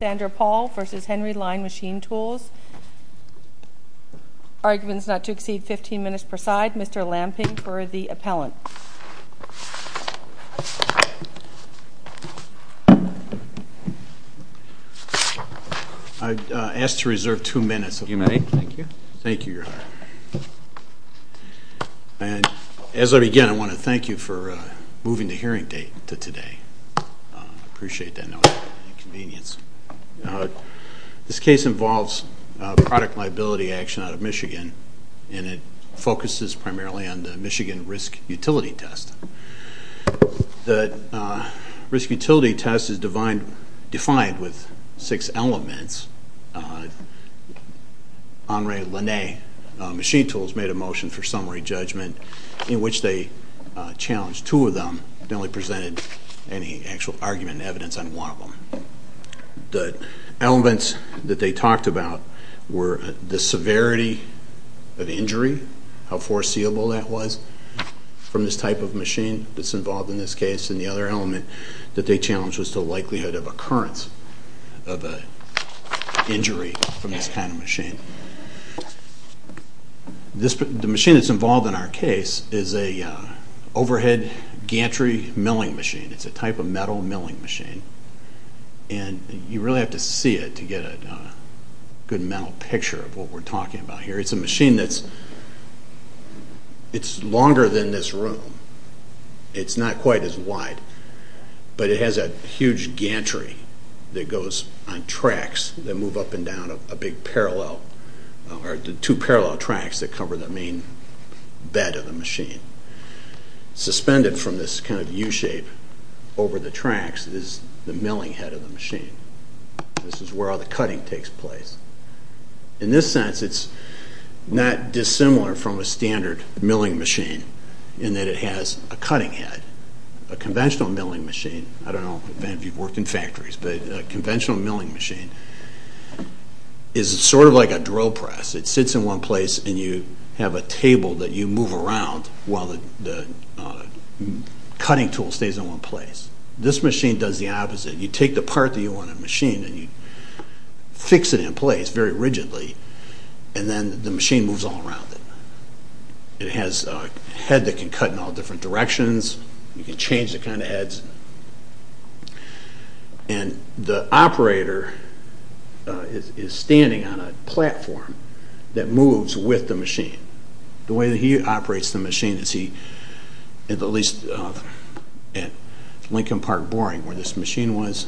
Arguments not to exceed 15 minutes per side. Mr. Lamping for the appellant. I ask to reserve two minutes. You may. Thank you. Thank you, Your Honor. As I begin, I want to thank you for moving the hearing date to today. I appreciate that note of inconvenience. This case involves product liability action out of Michigan, and it focuses primarily on the Michigan Risk Utility Test. The Risk Utility Test is defined with six elements. Henri Line Machine Tools made a motion for summary judgment in which they challenged two of them, and only presented any actual argument and evidence on one of them. The elements that they talked about were the severity of injury, how foreseeable that was from this type of machine that's involved in this case, and the other element that they challenged was the likelihood of occurrence of an injury from this kind of machine. The machine that's involved in our case is an overhead gantry milling machine. It's a type of metal milling machine, and you really have to see it to get a good mental picture of what we're talking about here. It's a machine that's longer than this room. It's not quite as wide, but it has a huge gantry that goes on tracks that move up and down a big parallel, or two parallel tracks that cover the main bed of the machine. Suspended from this kind of U-shape over the tracks is the milling head of the machine. This is where all the cutting takes place. In this sense, it's not dissimilar from a standard milling machine in that it has a cutting head. A conventional milling machine, I don't know if any of you have worked in factories, but a conventional milling machine is sort of like a drill press. It sits in one place, and you have a table that you move around while the cutting tool stays in one place. This machine does the opposite. You take the part that you want to machine, and you fix it in place very rigidly, and then the machine moves all around it. It has a head that can cut in all different directions. You can change the kind of heads. The operator is standing on a platform that moves with the machine. The way that he operates the machine is he, at least at Lincoln Park Boring where this machine was,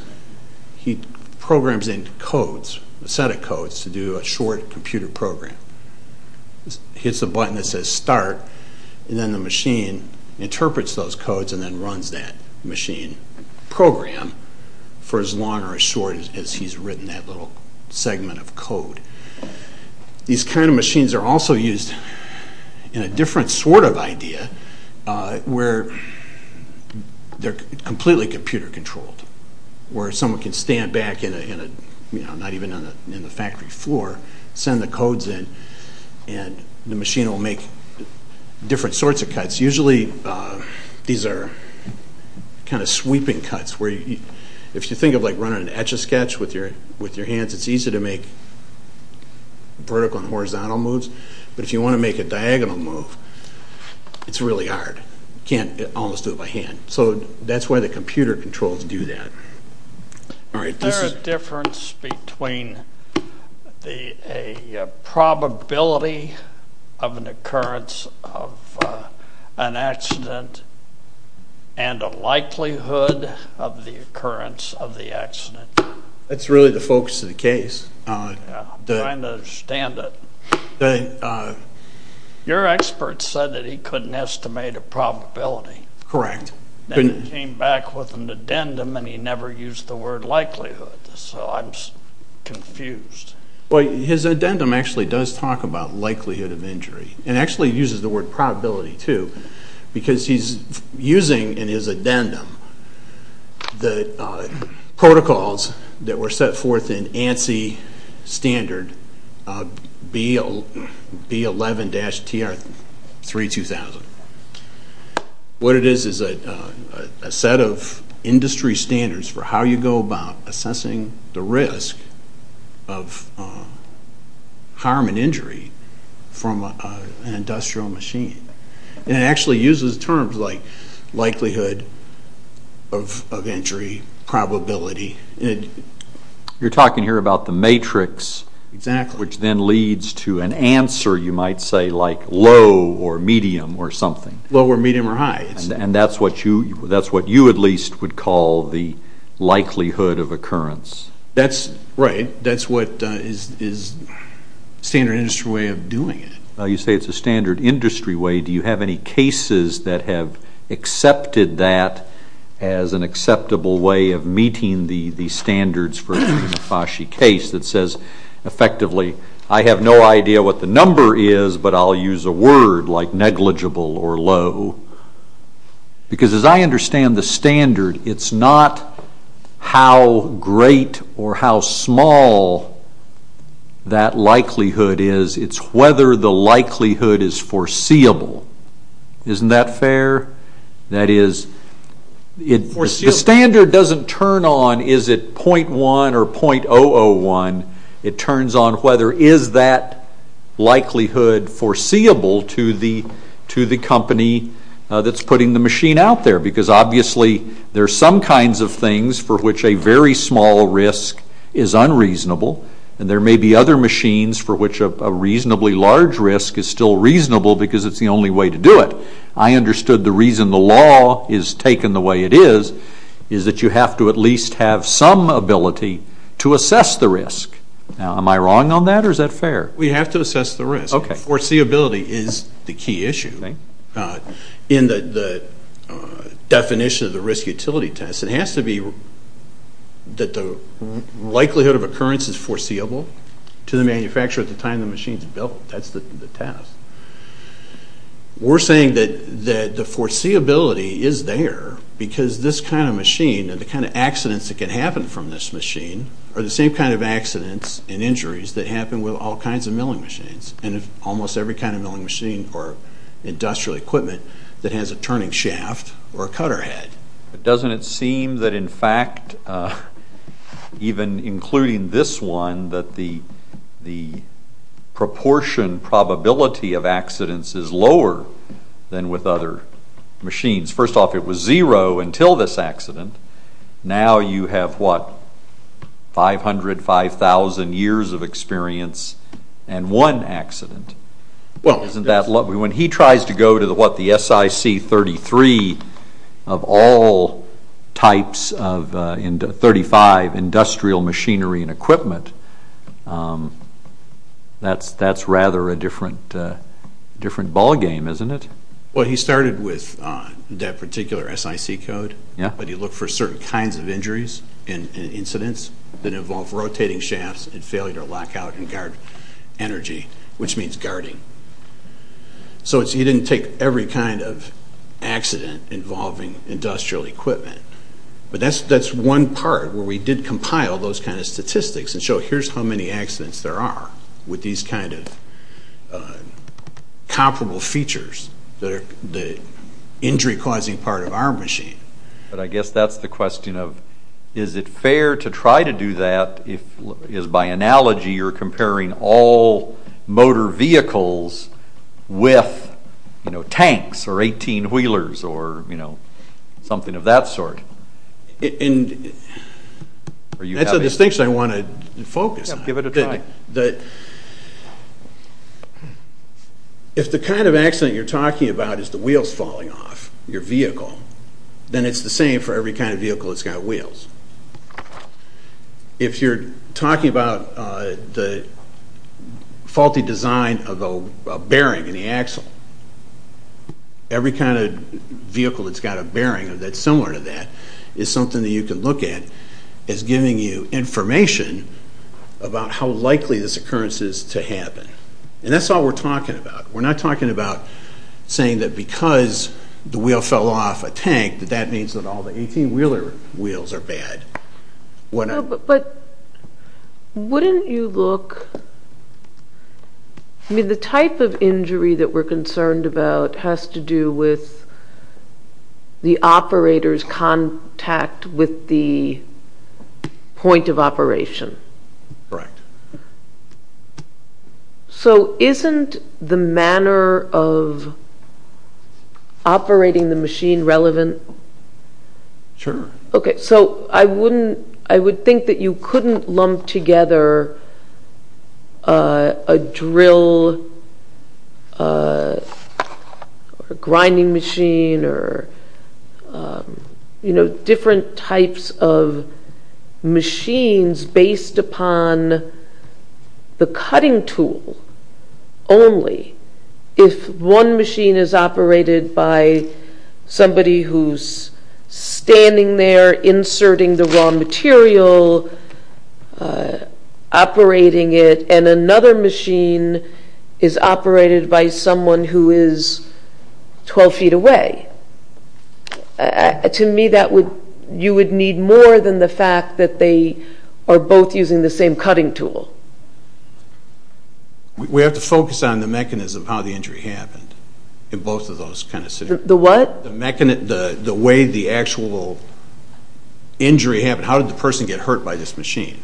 he programs in codes, a set of codes to do a short computer program. Hits the button that says start, and then the machine interprets those codes and then runs that machine program for as long or as short These kind of machines are also used in a different sort of idea where they're completely computer controlled. Where someone can stand back, not even in the factory floor, send the codes in, and the machine will make different sorts of cuts. Usually these are kind of sweeping cuts. If you think of running an etch-a-sketch with your hands, it's easy to make vertical and horizontal moves, but if you want to make a diagonal move, it's really hard. You can't almost do it by hand. Is there a difference between the probability of an occurrence of an accident and the likelihood of the occurrence of the accident? That's really the focus of the case. I'm trying to understand it. Your expert said that he couldn't estimate a probability. Correct. Then he came back with an addendum and he never used the word likelihood, so I'm confused. His addendum actually does talk about likelihood of injury and actually uses the word probability, too, because he's using in his addendum the protocols that were set forth in ANSI standard B11-TR3-2000. What it is is a set of harm and injury from an industrial machine. It actually uses terms like likelihood of injury, probability. You're talking here about the matrix, which then leads to an answer, you might say, like low or medium or something. Low or medium or high. That's what you at least would call the likelihood of occurrence. That's right. That's what is standard industry way of doing it. You say it's a standard industry way. Do you have any cases that have accepted that as an acceptable way of meeting the standards for a FASCI case that says, effectively, I have no idea what the number is, but I'll use a word like negligible or low, because as I understand the standard, it's not how great or how small that likelihood is. It's whether the likelihood is foreseeable. Isn't that fair? That is, the standard doesn't turn on is it .1 or .001. It turns on whether is that likelihood foreseeable to the company that's putting the machine out there. Obviously, there are some kinds of things for which a very small risk is unreasonable. There may be other machines for which a reasonably large risk is still reasonable because it's the only way to do it. I understood the reason the law is taken the way it is, is that you have to at the risk. Am I wrong on that or is that fair? We have to assess the risk. Foreseeability is the key issue. In the definition of the risk utility test, it has to be that the likelihood of occurrence is foreseeable to the manufacturer at the time the machine is built. That's the test. We're saying that the foreseeability is there because this kind of machine and the kind of accidents that can happen from this machine are the same kind of accidents and injuries that happen with all kinds of milling machines. Almost every kind of milling machine or industrial equipment that has a turning shaft or a cutter head. Doesn't it seem that in fact, even including this one, that the proportion probability of other machines. First off, it was zero until this accident. Now you have what, 500, 5000 years of experience and one accident. When he tries to go to the SIC 33 of all types of 35 industrial machinery and equipment, that's rather a different ball game, isn't it? He started with that particular SIC code, but he looked for certain kinds of injuries and incidents that involved rotating shafts and failure to lock out and guard energy, which means guarding. He didn't take every kind of accident involving industrial equipment. That's one part where we did compile those kind of statistics and show here's how many accidents there are with these kind of comparable features that are the injury causing part of our machine. I guess that's the question of, is it fair to try to do that if by analogy you're comparing all motor vehicles with tanks or 18 wheelers or something of that sort? That's a distinction I want to focus on. Give it a try. If the kind of accident you're talking about is the wheels falling off your vehicle, then it's the same for every kind of vehicle that's got wheels. If you're talking about the faulty design of a bearing in the axle, every kind of vehicle that's got a bearing that's similar to that is something that you can look at as giving you information about how likely this occurrence is to happen. And that's all we're talking about. We're not talking about saying that because the wheel fell off a tank that that means that all the 18 wheeler But wouldn't you look I mean the type of injury that we're concerned about has to do with the operator's contact with the point of operation. So isn't the manner of I would think that you couldn't lump together a drill or a grinding machine or different types of machines based upon the cutting tool only if one machine is operated by somebody who's standing there inserting the raw material operating it and another machine is operated by someone who is 12 feet away. To me you would need more than the fact that they are both using the same cutting tool. We have to focus on the mechanism of how the injury happened in both of those situations. The what? The way the actual injury happened. How did the person get hurt by this machine?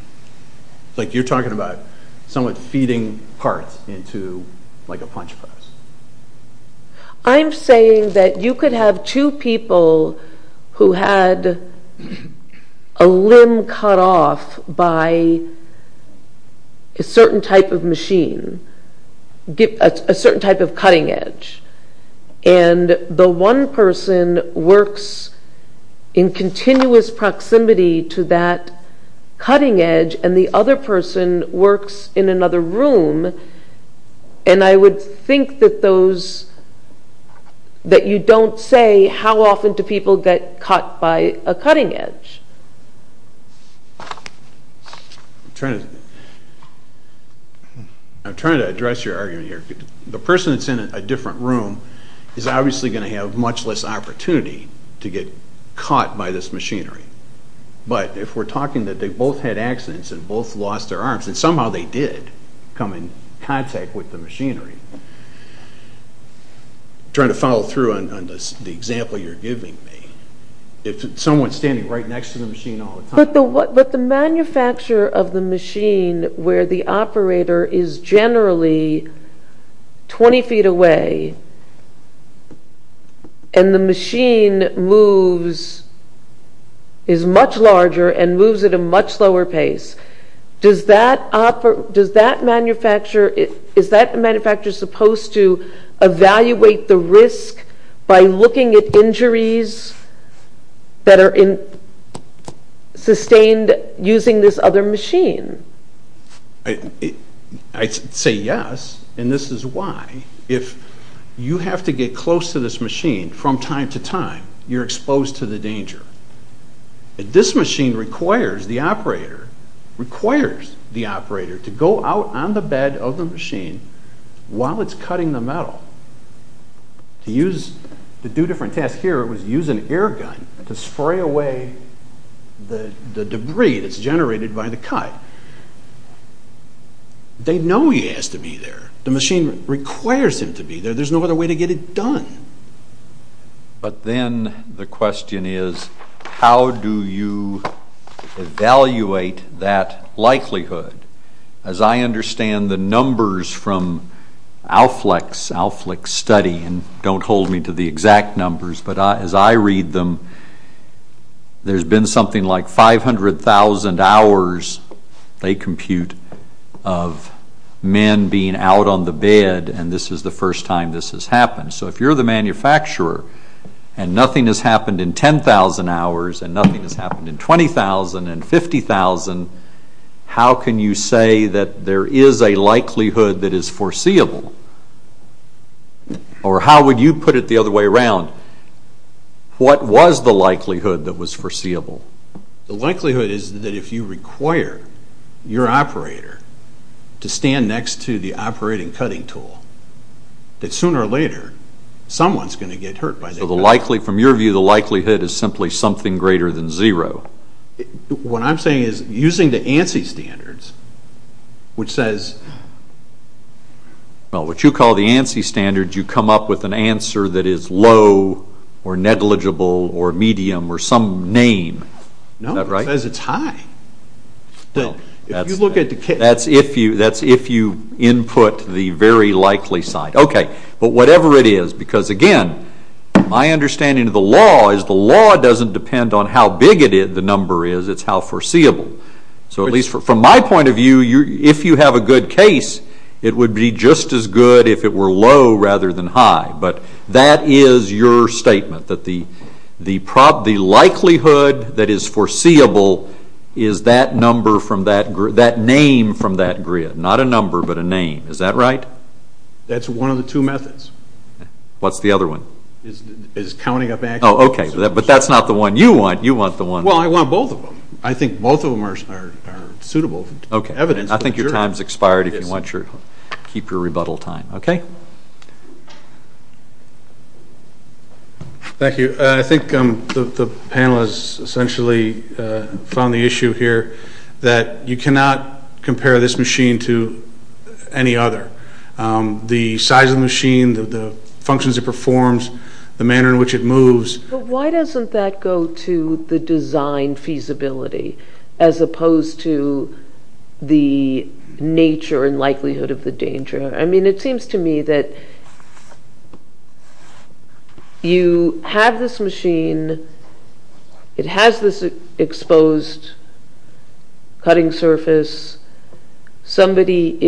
You're talking about someone feeding parts into a punch press. I'm saying that you could have two people who had a limb cut off by a certain type of machine, a certain type of cutting edge and the one person works in continuous proximity to that cutting edge and the other person works in another room and I would think that those that you don't say how often do people get cut by a cutting edge. I'm trying to address your argument here. The person that's in a different room is obviously going to have much less opportunity to get caught by this machinery. But if we're talking that they both had accidents and both lost their arms and somehow they did come in contact with the machinery. Trying to follow through on the example you're giving me. If someone's standing right next to the machine all the time. But the manufacturer of the machine where the operator is generally 20 feet away and the machine moves is much larger and moves at a much lower pace. Is that manufacturer supposed to evaluate the risk by looking at injuries that are sustained using this other machine? I'd say yes and this is why. If you have to get close to this machine from time to time, you're exposed to the danger. This machine requires the operator to go out on the bed of the machine while it's cutting the metal. To do different tasks here it was using air gun to spray away the debris that's generated by the cut. They know he has to be there. The machine requires him to be there. There's no other way to get it done. But then the question is how do you evaluate that likelihood? As I understand the numbers from ALFLEX study and don't hold me to the exact numbers, but as I read them there's been something like 500,000 hours they compute of men being out on the bed and this is the first time this has happened. So if you're the manufacturer and nothing has happened in 10,000 hours and nothing has happened in 20,000 and 50,000 how can you say that there is a likelihood that is foreseeable? Or how would you put it the other way around? What was the likelihood that was foreseeable? The likelihood is that if you require your operator to stand next to the operating cutting tool that sooner or later someone is going to get hurt. So from your view the likelihood is simply something greater than zero? What I'm saying is using the ANSI standards Well what you call the ANSI standards you come up with an answer that is low or negligible or medium or some name. No, it says it's high. That's if you input the very likely sign. But whatever it is, because again my understanding of the law is the law doesn't depend on how big the number is, it's how foreseeable. So at least from my point of view if you have a good case it would be just as good if it were low rather than high. But that is your statement. The likelihood that is foreseeable is that name from that grid. Not a number but a name. Is that right? That's one of the two methods. I think both of them are suitable. I think your time has expired if you want to keep your rebuttal time. Thank you. I think the panel has essentially found the issue here that you cannot compare this machine to any other. The size of the machine, the functions it performs, the manner in which it moves. Why doesn't that go to the design feasibility as opposed to the nature and likelihood of the danger? It seems to me that you have this machine, it has this exposed cutting surface. Somebody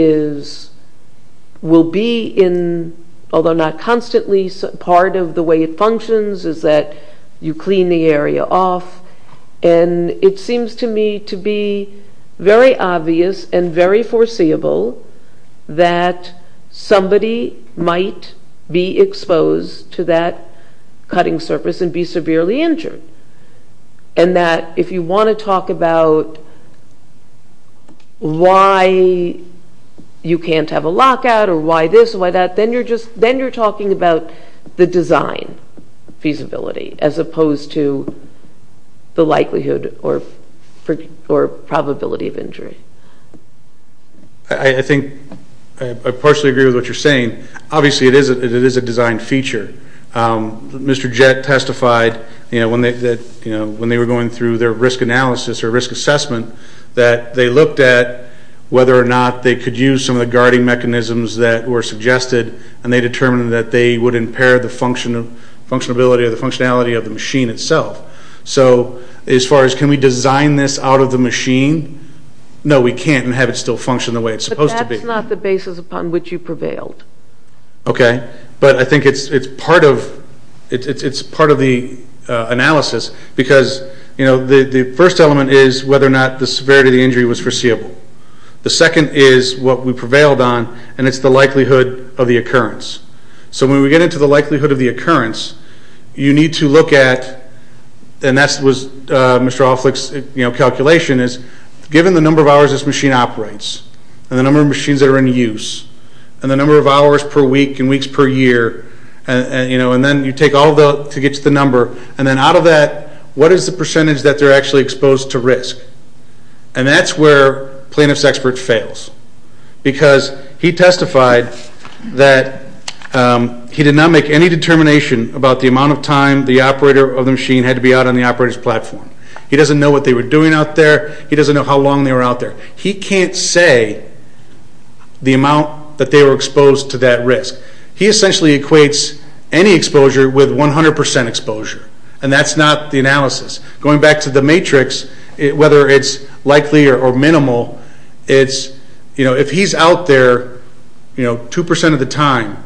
will be in, although not constantly, part of the way it functions is that you clean the area off and it seems to me to be very obvious and very foreseeable that somebody might be exposed to that cutting surface and be severely injured. And that if you want to talk about why you can't have a lockout or why this or why that then you're talking about the design feasibility as opposed to the likelihood or probability of injury. I think I partially agree with what you're saying. Obviously it is a design feature. Mr. Jett testified when they were going through their risk analysis or risk assessment that they looked at whether or not they could use some of the guarding mechanisms that were suggested and they determined that they would impair the functionality of the machine itself. So as far as can we design this out of the machine, no we can't and have it still function the way it's supposed to be. But that's not the basis upon which you prevailed. But I think it's part of the analysis because the first element is whether or not the severity of the injury was foreseeable. The second is what we prevailed on and it's the likelihood of the occurrence. So when we get into the likelihood of the occurrence you need to look at and that was Mr. Hofflich's calculation is given the number of hours this machine operates and the number of machines that are in use and the number of hours per week and weeks per year and then you take all of that to get to the number and then out of that what is the percentage that they're actually exposed to risk and that's where plaintiff's expert fails because he testified that he did not make any determination about the amount of time the operator of the machine had to be out on the operator's platform. He doesn't know what they were doing out there. He doesn't know how long they were out there. He can't say the amount that they were exposed to that risk. He essentially equates any exposure with 100% exposure and that's not the analysis. Going back to the matrix whether it's likely or minimal, if he's out there 2% of the time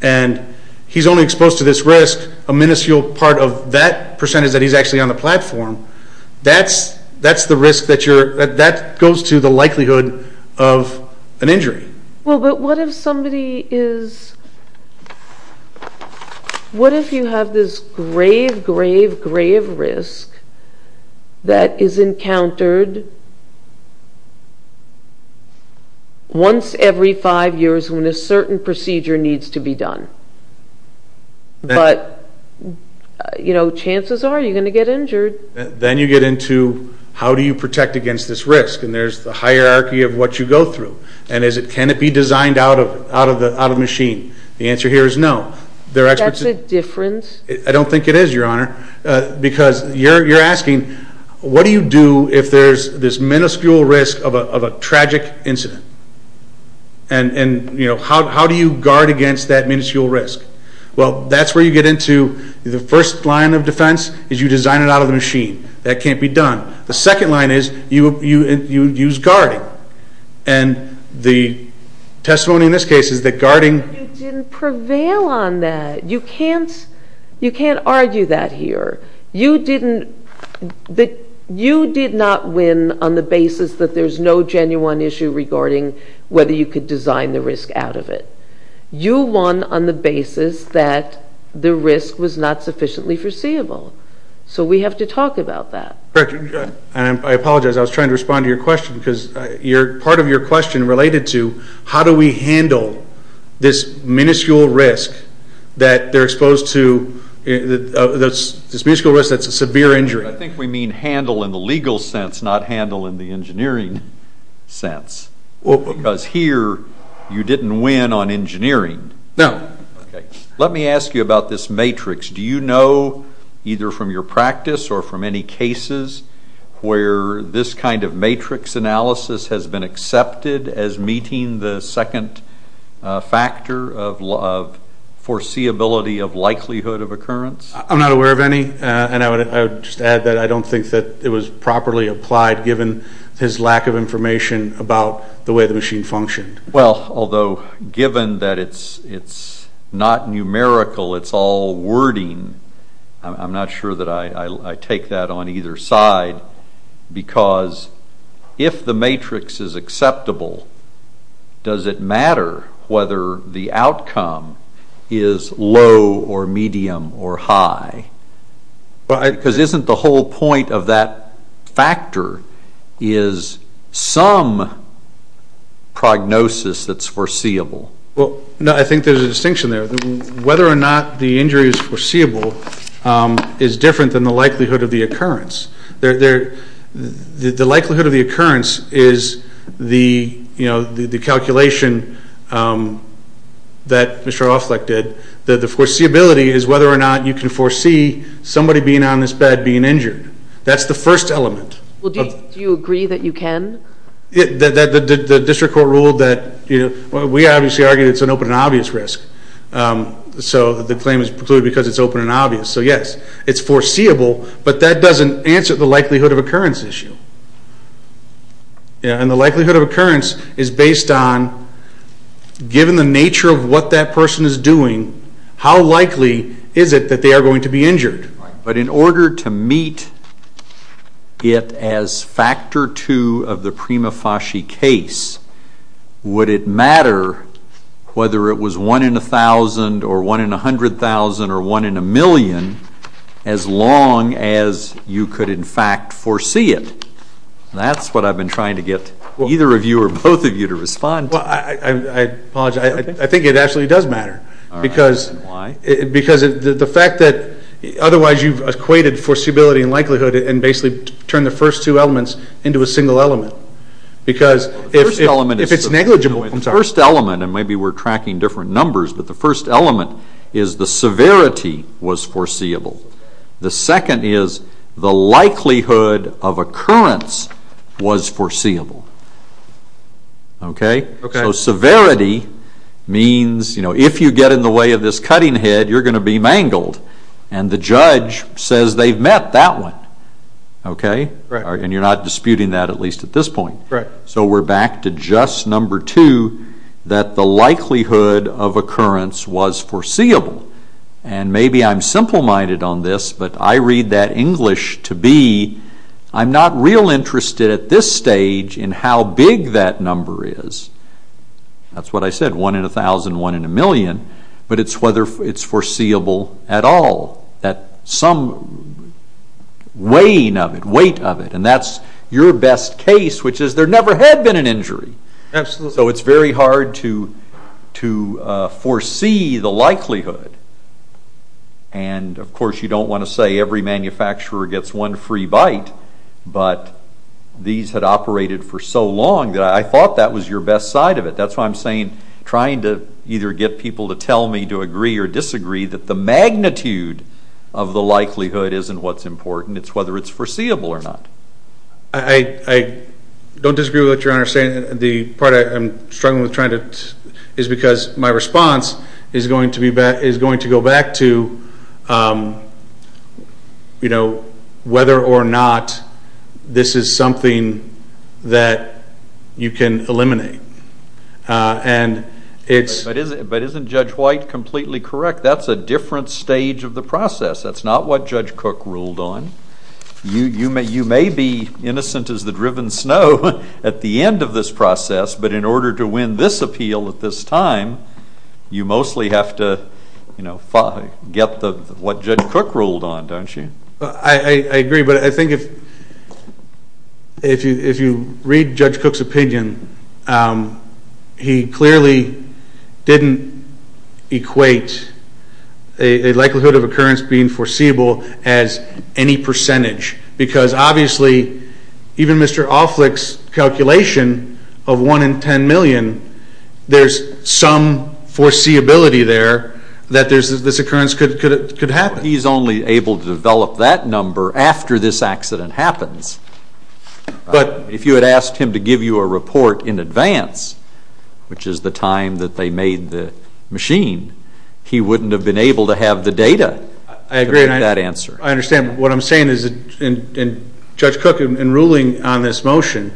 and he's only exposed to this risk a minuscule part of that percentage that he's actually on the platform, that's the risk that goes to the likelihood of an injury. What if somebody is, what if you have this grave, grave, grave risk that is encountered once every 5 years when a certain procedure needs to be done but chances are you're going to get injured. Then you get into how do you protect against this risk and there's the hierarchy of what you go through and can it be designed out of the machine? The answer here is no. That's a difference? I don't think it is your honor because you're asking what do you do if there's this minuscule risk of a tragic incident and how do you guard against that minuscule risk? Well that's where you get into the first line of defense is you design it out of the machine. That can't be done. The second line is you use guarding and the testimony in this case is that guarding. You didn't prevail on that. You can't argue that here. You didn't you did not win on the basis that there's no genuine issue regarding whether you could design the risk out of it. You won on the basis that the risk was not sufficiently foreseeable. So we have to talk about that. I apologize I was trying to respond to your question because part of your question related to how do we handle this minuscule risk that they're exposed to, this minuscule risk that's a severe injury. I think we mean handle in the legal sense not handle in the engineering sense. Because here you didn't win on engineering. No. Let me ask you about this matrix. Do you know either from your practice or from any cases where this kind of matrix analysis has been accepted as meeting the second factor of foreseeability of likelihood of occurrence? I'm not aware of any and I would just add that I don't think that it was properly applied given his lack of information about the way the machine functioned. Well, although given that it's not numerical, it's all wording, I'm not sure that I take that on either side because if the matrix is acceptable, does it matter whether the outcome is low or medium or high? Because isn't the whole point of that factor is some prognosis that's foreseeable? I think there's a distinction there. Whether or not the injury is foreseeable is different than the likelihood of the occurrence. The likelihood of the occurrence is the calculation that Mr. Ofleck did. The foreseeability is whether or not you can foresee somebody being on this bed being injured. That's the first element. Do you agree that you can? The district obviously argued it's an open and obvious risk. So the claim is precluded because it's open and obvious. So yes, it's foreseeable, but that doesn't answer the likelihood of occurrence issue. And the likelihood of occurrence is based on given the nature of what that person is doing, how likely is it that they are going to be injured? But in order to meet it as factor two of the prima facie case, would it matter whether it was one in a thousand or one in a hundred thousand or one in a million as long as you could in fact foresee it? That's what I've been trying to get either of you or both of you to respond to. I think it actually does matter because the fact that otherwise you've equated foreseeability and likelihood and basically turned the first two elements into a single element. Because if it's negligible... The first element, and maybe we're tracking different numbers, but the first element is the severity was foreseeable. The second is the likelihood of occurrence was foreseeable. So severity means if you get in the way of this cutting head, you're going to be mangled. And the judge says they've met that one. And you're not disputing that at least at this point. So we're back to just number two, that the likelihood of occurrence was foreseeable. And maybe I'm simple minded on this, but I read that English to be, I'm not real interested at this stage in how big that number is. That's what I said, one in a thousand, one in a million. But it's whether it's foreseeable at all. That some weighing of it, weight of it. And that's your best case, which is there never had been an injury. So it's very hard to foresee the likelihood. And of course you don't want to say every so long that I thought that was your best side of it. That's why I'm saying trying to either get people to tell me to agree or disagree that the magnitude of the likelihood isn't what's important, it's whether it's foreseeable or not. I don't disagree with what you're saying. The part I'm struggling with trying to, is because my response is going to go back to whether or not this is something that you can eliminate. But isn't Judge White completely correct? That's a different stage of the process. That's not what Judge Cook ruled on. You may be innocent as the driven snow at the end of this process, but in order to win this appeal at this stage, you have to eliminate the likelihood. That's not what Judge Cook ruled on, don't you? I agree, but I think if you read Judge Cook's opinion, he clearly didn't equate a likelihood of occurrence being foreseeable as any percentage. Because obviously, even Mr. Alflick's calculation of 1 in 10 million, there's some foreseeability there that this occurrence could happen. He's only able to develop that number after this accident happens. If you had asked him to give you a report in advance, which is the time that they made the machine, he wouldn't have been able to have the data to make that answer. Judge Cook, in ruling on this motion,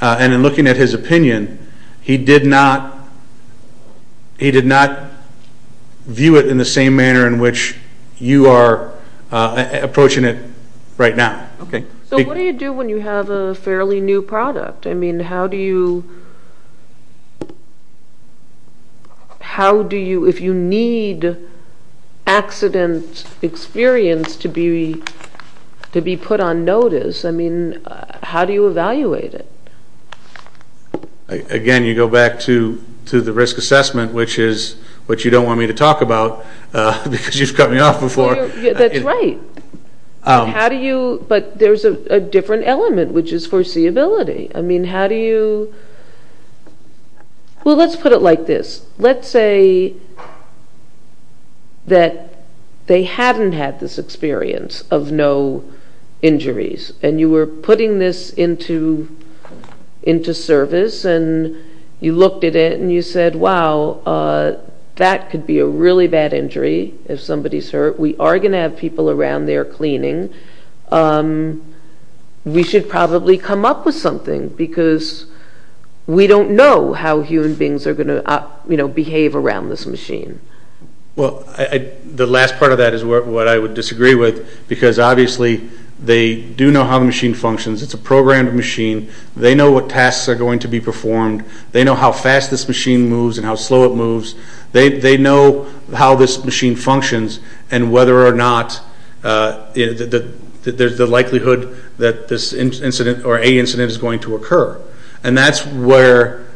and in looking at his opinion, he did not view it in the same manner in which you are approaching it right now. So what do you do when you have a fairly new product? I mean, how do you, if you need accident experience to be put on notice, how do you evaluate it? Again, you go back to the risk assessment, which is what you don't want me to talk about, because you've cut me off before. That's right. But there's a different element, which is foreseeability. I mean, how do you, well, let's put it like this. Let's say that they hadn't had this experience of no injuries, and you were putting this into service, and you looked at it, and you said, wow, that could be a really bad injury if somebody's hurt. We are going to have people around there cleaning. We should probably come up with something, because we don't know how human beings are going to behave around this machine. Well, the last part of that is what I would disagree with, because obviously they do know how the machine functions. It's a programmed machine. They know what tasks are going to be performed. They know how fast this machine moves and how slow it moves. They know how this machine functions, and whether or not there's the likelihood that this incident, or a incident, is going to occur. And that's where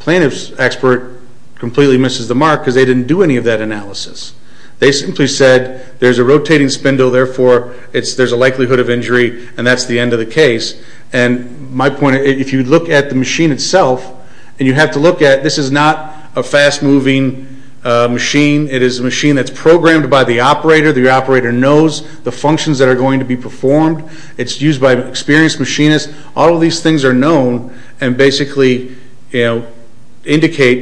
plaintiff's expert completely misses the mark, because they didn't do any of that analysis. They simply said, there's a rotating spindle, therefore there's a likelihood of injury, and that's the end of the case. And my point, if you look at the machine itself, and you have to look at, this is not a fast-moving machine. It is a machine that's programmed by the operator. The operator knows the functions that are going to be performed. It's used by an experienced machinist. All of these things are known, and basically indicate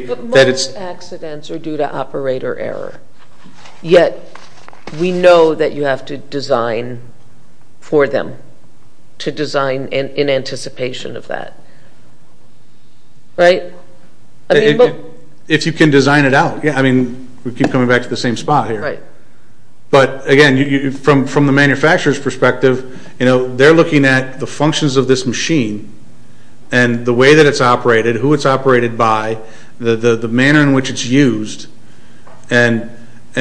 that it's... But most accidents are due to operator error. Yet, we know that you have to design for them. To design in anticipation of that. Right? If you can design it out. We keep coming back to the same spot here. But again, from the manufacturer's perspective, they're looking at the functions of this machine, and the way that it's operated, who it's operated by, the manner in which it's used, and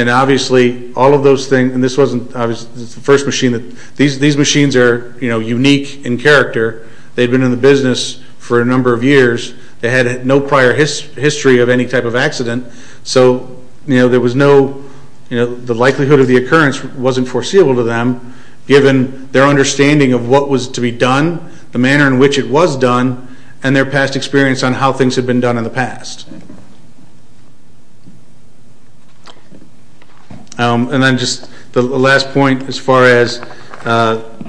obviously, all of those things, and this wasn't the first machine. These machines are unique in character. They've been in the business for a number of years. They had no prior history of any type of accident. So, there was no... The likelihood of the occurrence wasn't foreseeable to them, given their understanding of what was to be done, the manner in which it was done, and their past experience on how things had been done in the past. And then just the last point, as far as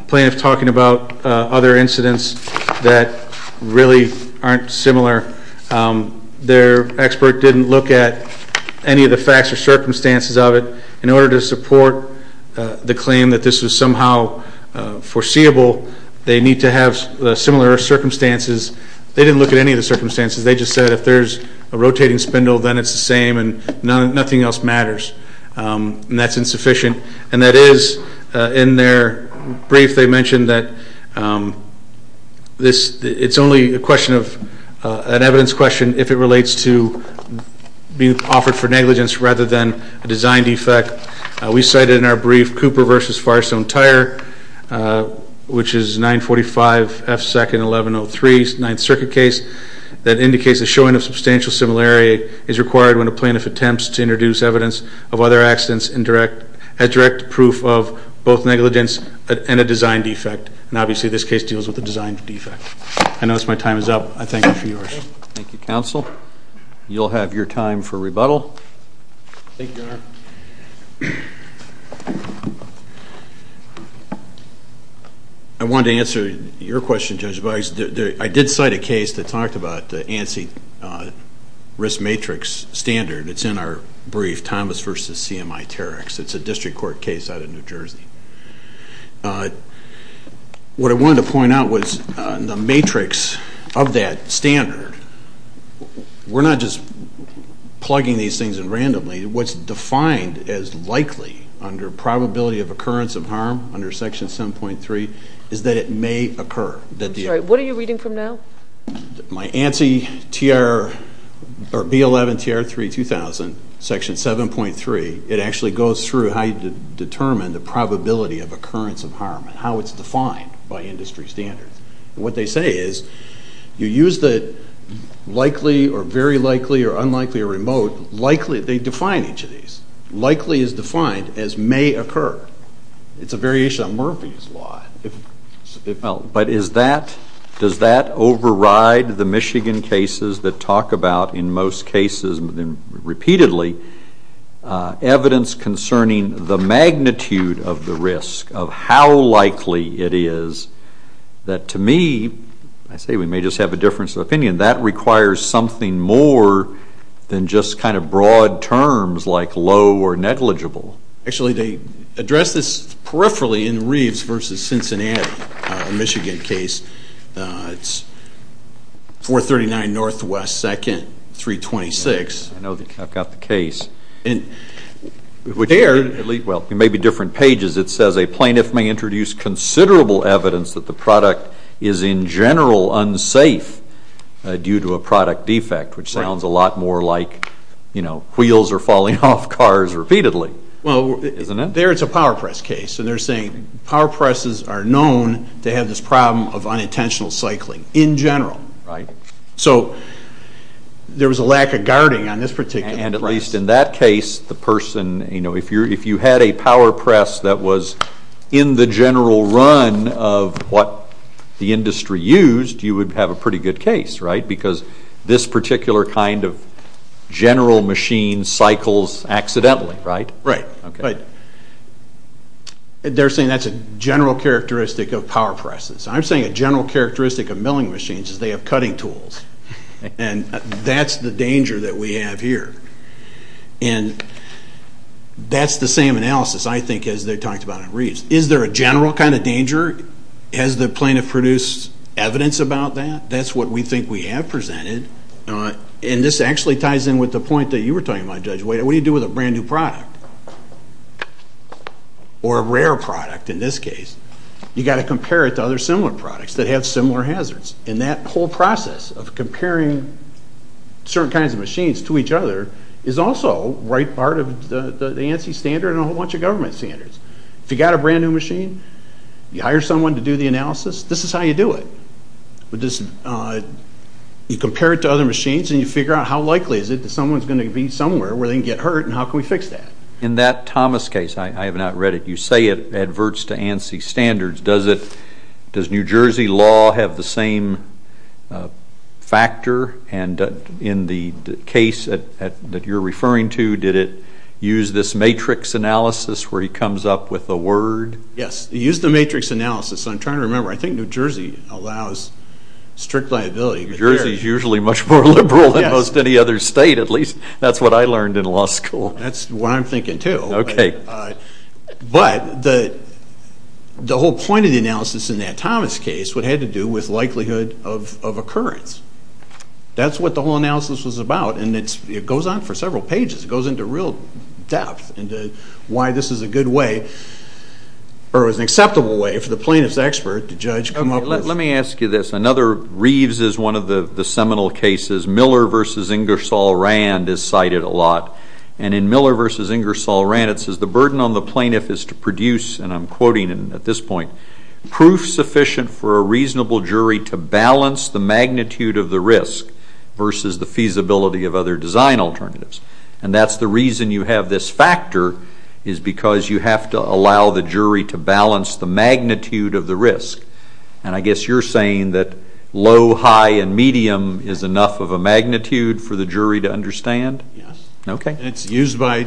plaintiffs talking about other incidents that really aren't similar, their expert didn't look at any of the facts or circumstances of it. In order to support the claim that this was somehow foreseeable, they need to have similar circumstances. They didn't look at any of the circumstances. They just said, if there's a rotating spindle, then it's the same, and nothing else matters. And that's insufficient. And that is, in their brief, they mentioned that it's only a question of, an evidence question, if it relates to being offered for negligence rather than a design defect. We cited in our brief, Cooper v. Firestone Tire, which is 945F2-1103, 9th Circuit case, that indicates the showing of substantial similarity is required when a plaintiff attempts to introduce evidence of other accidents as direct proof of both negligence and a design defect. And obviously this case deals with a design defect. I notice my time is up. I thank you for yours. Thank you, Counsel. You'll have your time for rebuttal. Thank you, Your Honor. I wanted to answer your question, Judge Boggs. I did cite a case that talked about the ANSI risk matrix standard. It's in our brief, Thomas v. CMI-Terex. It's a district court case out of New Jersey. What I wanted to point out was the matrix of that standard, we're not just plugging these things in randomly. What's defined as likely under probability of occurrence of harm under Section 7.3 is that it may occur. What are you reading from now? My ANSI TR, or B11 TR 3000, Section 7.3, it actually goes through how you determine the probability of occurrence of harm and how it's defined by industry standards. What they say is you use the likely or very likely or unlikely or remote likely. They define each of these. Likely is defined as may occur. It's a variation on Murphy's Law. But is that, does that override the Michigan cases that talk about, in most cases repeatedly, evidence concerning the magnitude of the risk of how likely it is that to me, I say we may just have a difference of opinion. That requires something more than just kind of broad terms like low or negligible. Actually, they address this peripherally in Reeves v. Cincinnati, a Michigan case. It's 439 NW 2nd, 326. I know, I've got the case. And there, well, it may be different pages. It says a safe due to a product defect, which sounds a lot more like wheels are falling off cars repeatedly. Well, there it's a power press case. And they're saying power presses are known to have this problem of unintentional cycling in general. So there was a lack of guarding on this particular case. And at least in that case, the person, if you had a power press that was in the general run of what the industry used, you would have a pretty good case, right? Because this particular kind of general machine cycles accidentally, right? Right. But they're saying that's a general characteristic of power presses. I'm saying a general characteristic of milling machines is they have cutting tools. And that's the danger that we have here. And that's the same analysis, I think, as they talked about in Reeves. Is there a general kind of danger? Has the plaintiff produced evidence about that? That's what we think we have presented. And this actually ties in with the point that you were talking about, Judge Wade. What do you do with a brand new product? Or a rare product, in this case. You've got to compare it to other similar products that have similar hazards. And that whole process of comparing certain kinds of machines to each other is also right part of the ANSI standard and a whole bunch of government standards. If you've got a brand new machine, you hire someone to do the analysis, this is how you do it. You compare it to other machines and you figure out how likely is it that someone's going to be somewhere where they can get hurt and how can we fix that? In that Thomas case, I have not read it, you say it adverts to ANSI standards. Does New Jersey law have the same factor? And in the case that you're referring to, did it use this matrix analysis where he comes up with a word? Yes, it used the matrix analysis. I'm trying to remember. I think New Jersey allows strict liability. New Jersey's usually much more liberal than most any other state, at least. That's what I learned in law school. That's what I'm thinking too. But the whole point of the analysis in that Thomas case, what it had to do with likelihood of occurrence. That's what the whole analysis was about and it goes on for several pages. It goes into real depth into why this is a good way, or is an acceptable way for the plaintiff's expert to judge. Let me ask you this. Another, Reeves is one of the people in Miller v. Ingersoll-Rannett says the burden on the plaintiff is to produce, and I'm quoting at this point, proof sufficient for a reasonable jury to balance the magnitude of the risk versus the feasibility of other design alternatives. And that's the reason you have this factor, is because you have to allow the jury to balance the magnitude of the risk. And I guess you're saying that low, high, and medium is enough of a magnitude for the jury to understand? Yes. Okay. And it's used by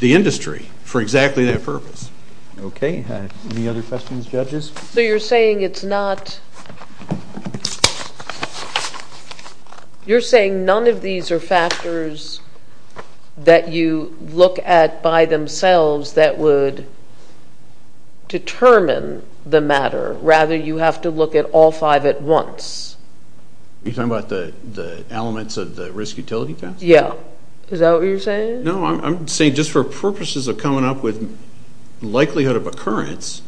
the industry for exactly that purpose. Okay. Any other questions, judges? So you're saying it's not, you're saying none of these are factors that you look at by themselves that would determine the elements of the risk utility test? Yeah. Is that what you're saying? No, I'm saying just for purposes of coming up with likelihood of occurrence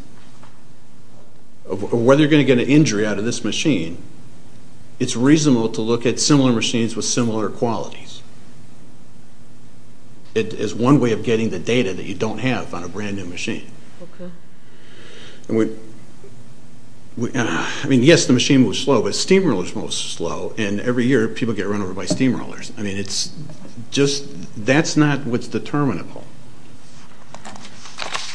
of whether you're going to get an injury out of this machine, it's reasonable to look at similar machines with similar qualities. It is one way of getting the data that you don't have on a brand new machine. Okay. I mean, yes, the machine moves slow, but steamrollers move slow, and every year people get run over by steamrollers. I mean, it's just, that's not what's determinable.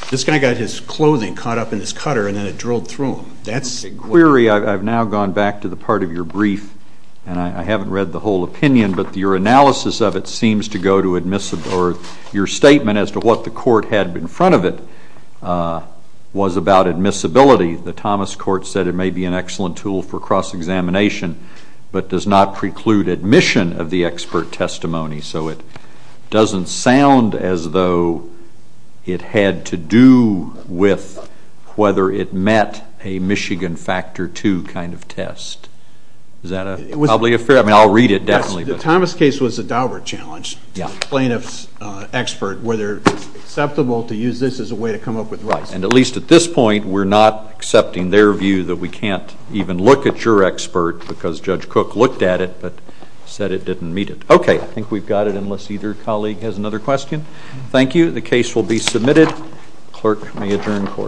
This guy got his clothing caught up in his cutter, and then it drilled through him. That's a query. I've now gone back to the part of your brief, and I haven't read the whole opinion, but your analysis of it seems to go to admissible, or your statement as to what the court had in front of it was about admissibility. The Thomas court said it may be an excellent tool for cross-examination, but does not preclude admission of the expert testimony. So it doesn't sound as though it had to do with whether it met a Michigan Factor II kind of test. Is that probably a fair, I mean, I'll read it definitely. The Thomas case was a Daubert challenge. Yeah. Plaintiff's expert, whether it's acceptable to use this as a way to come up with rights. And at least at this point, we're not accepting their view that we can't even look at your expert because Judge Cook looked at it, but said it didn't meet it. Okay. I think we've got it, unless either colleague has another question. Thank you. The case will be submitted. Clerk, may adjourn court.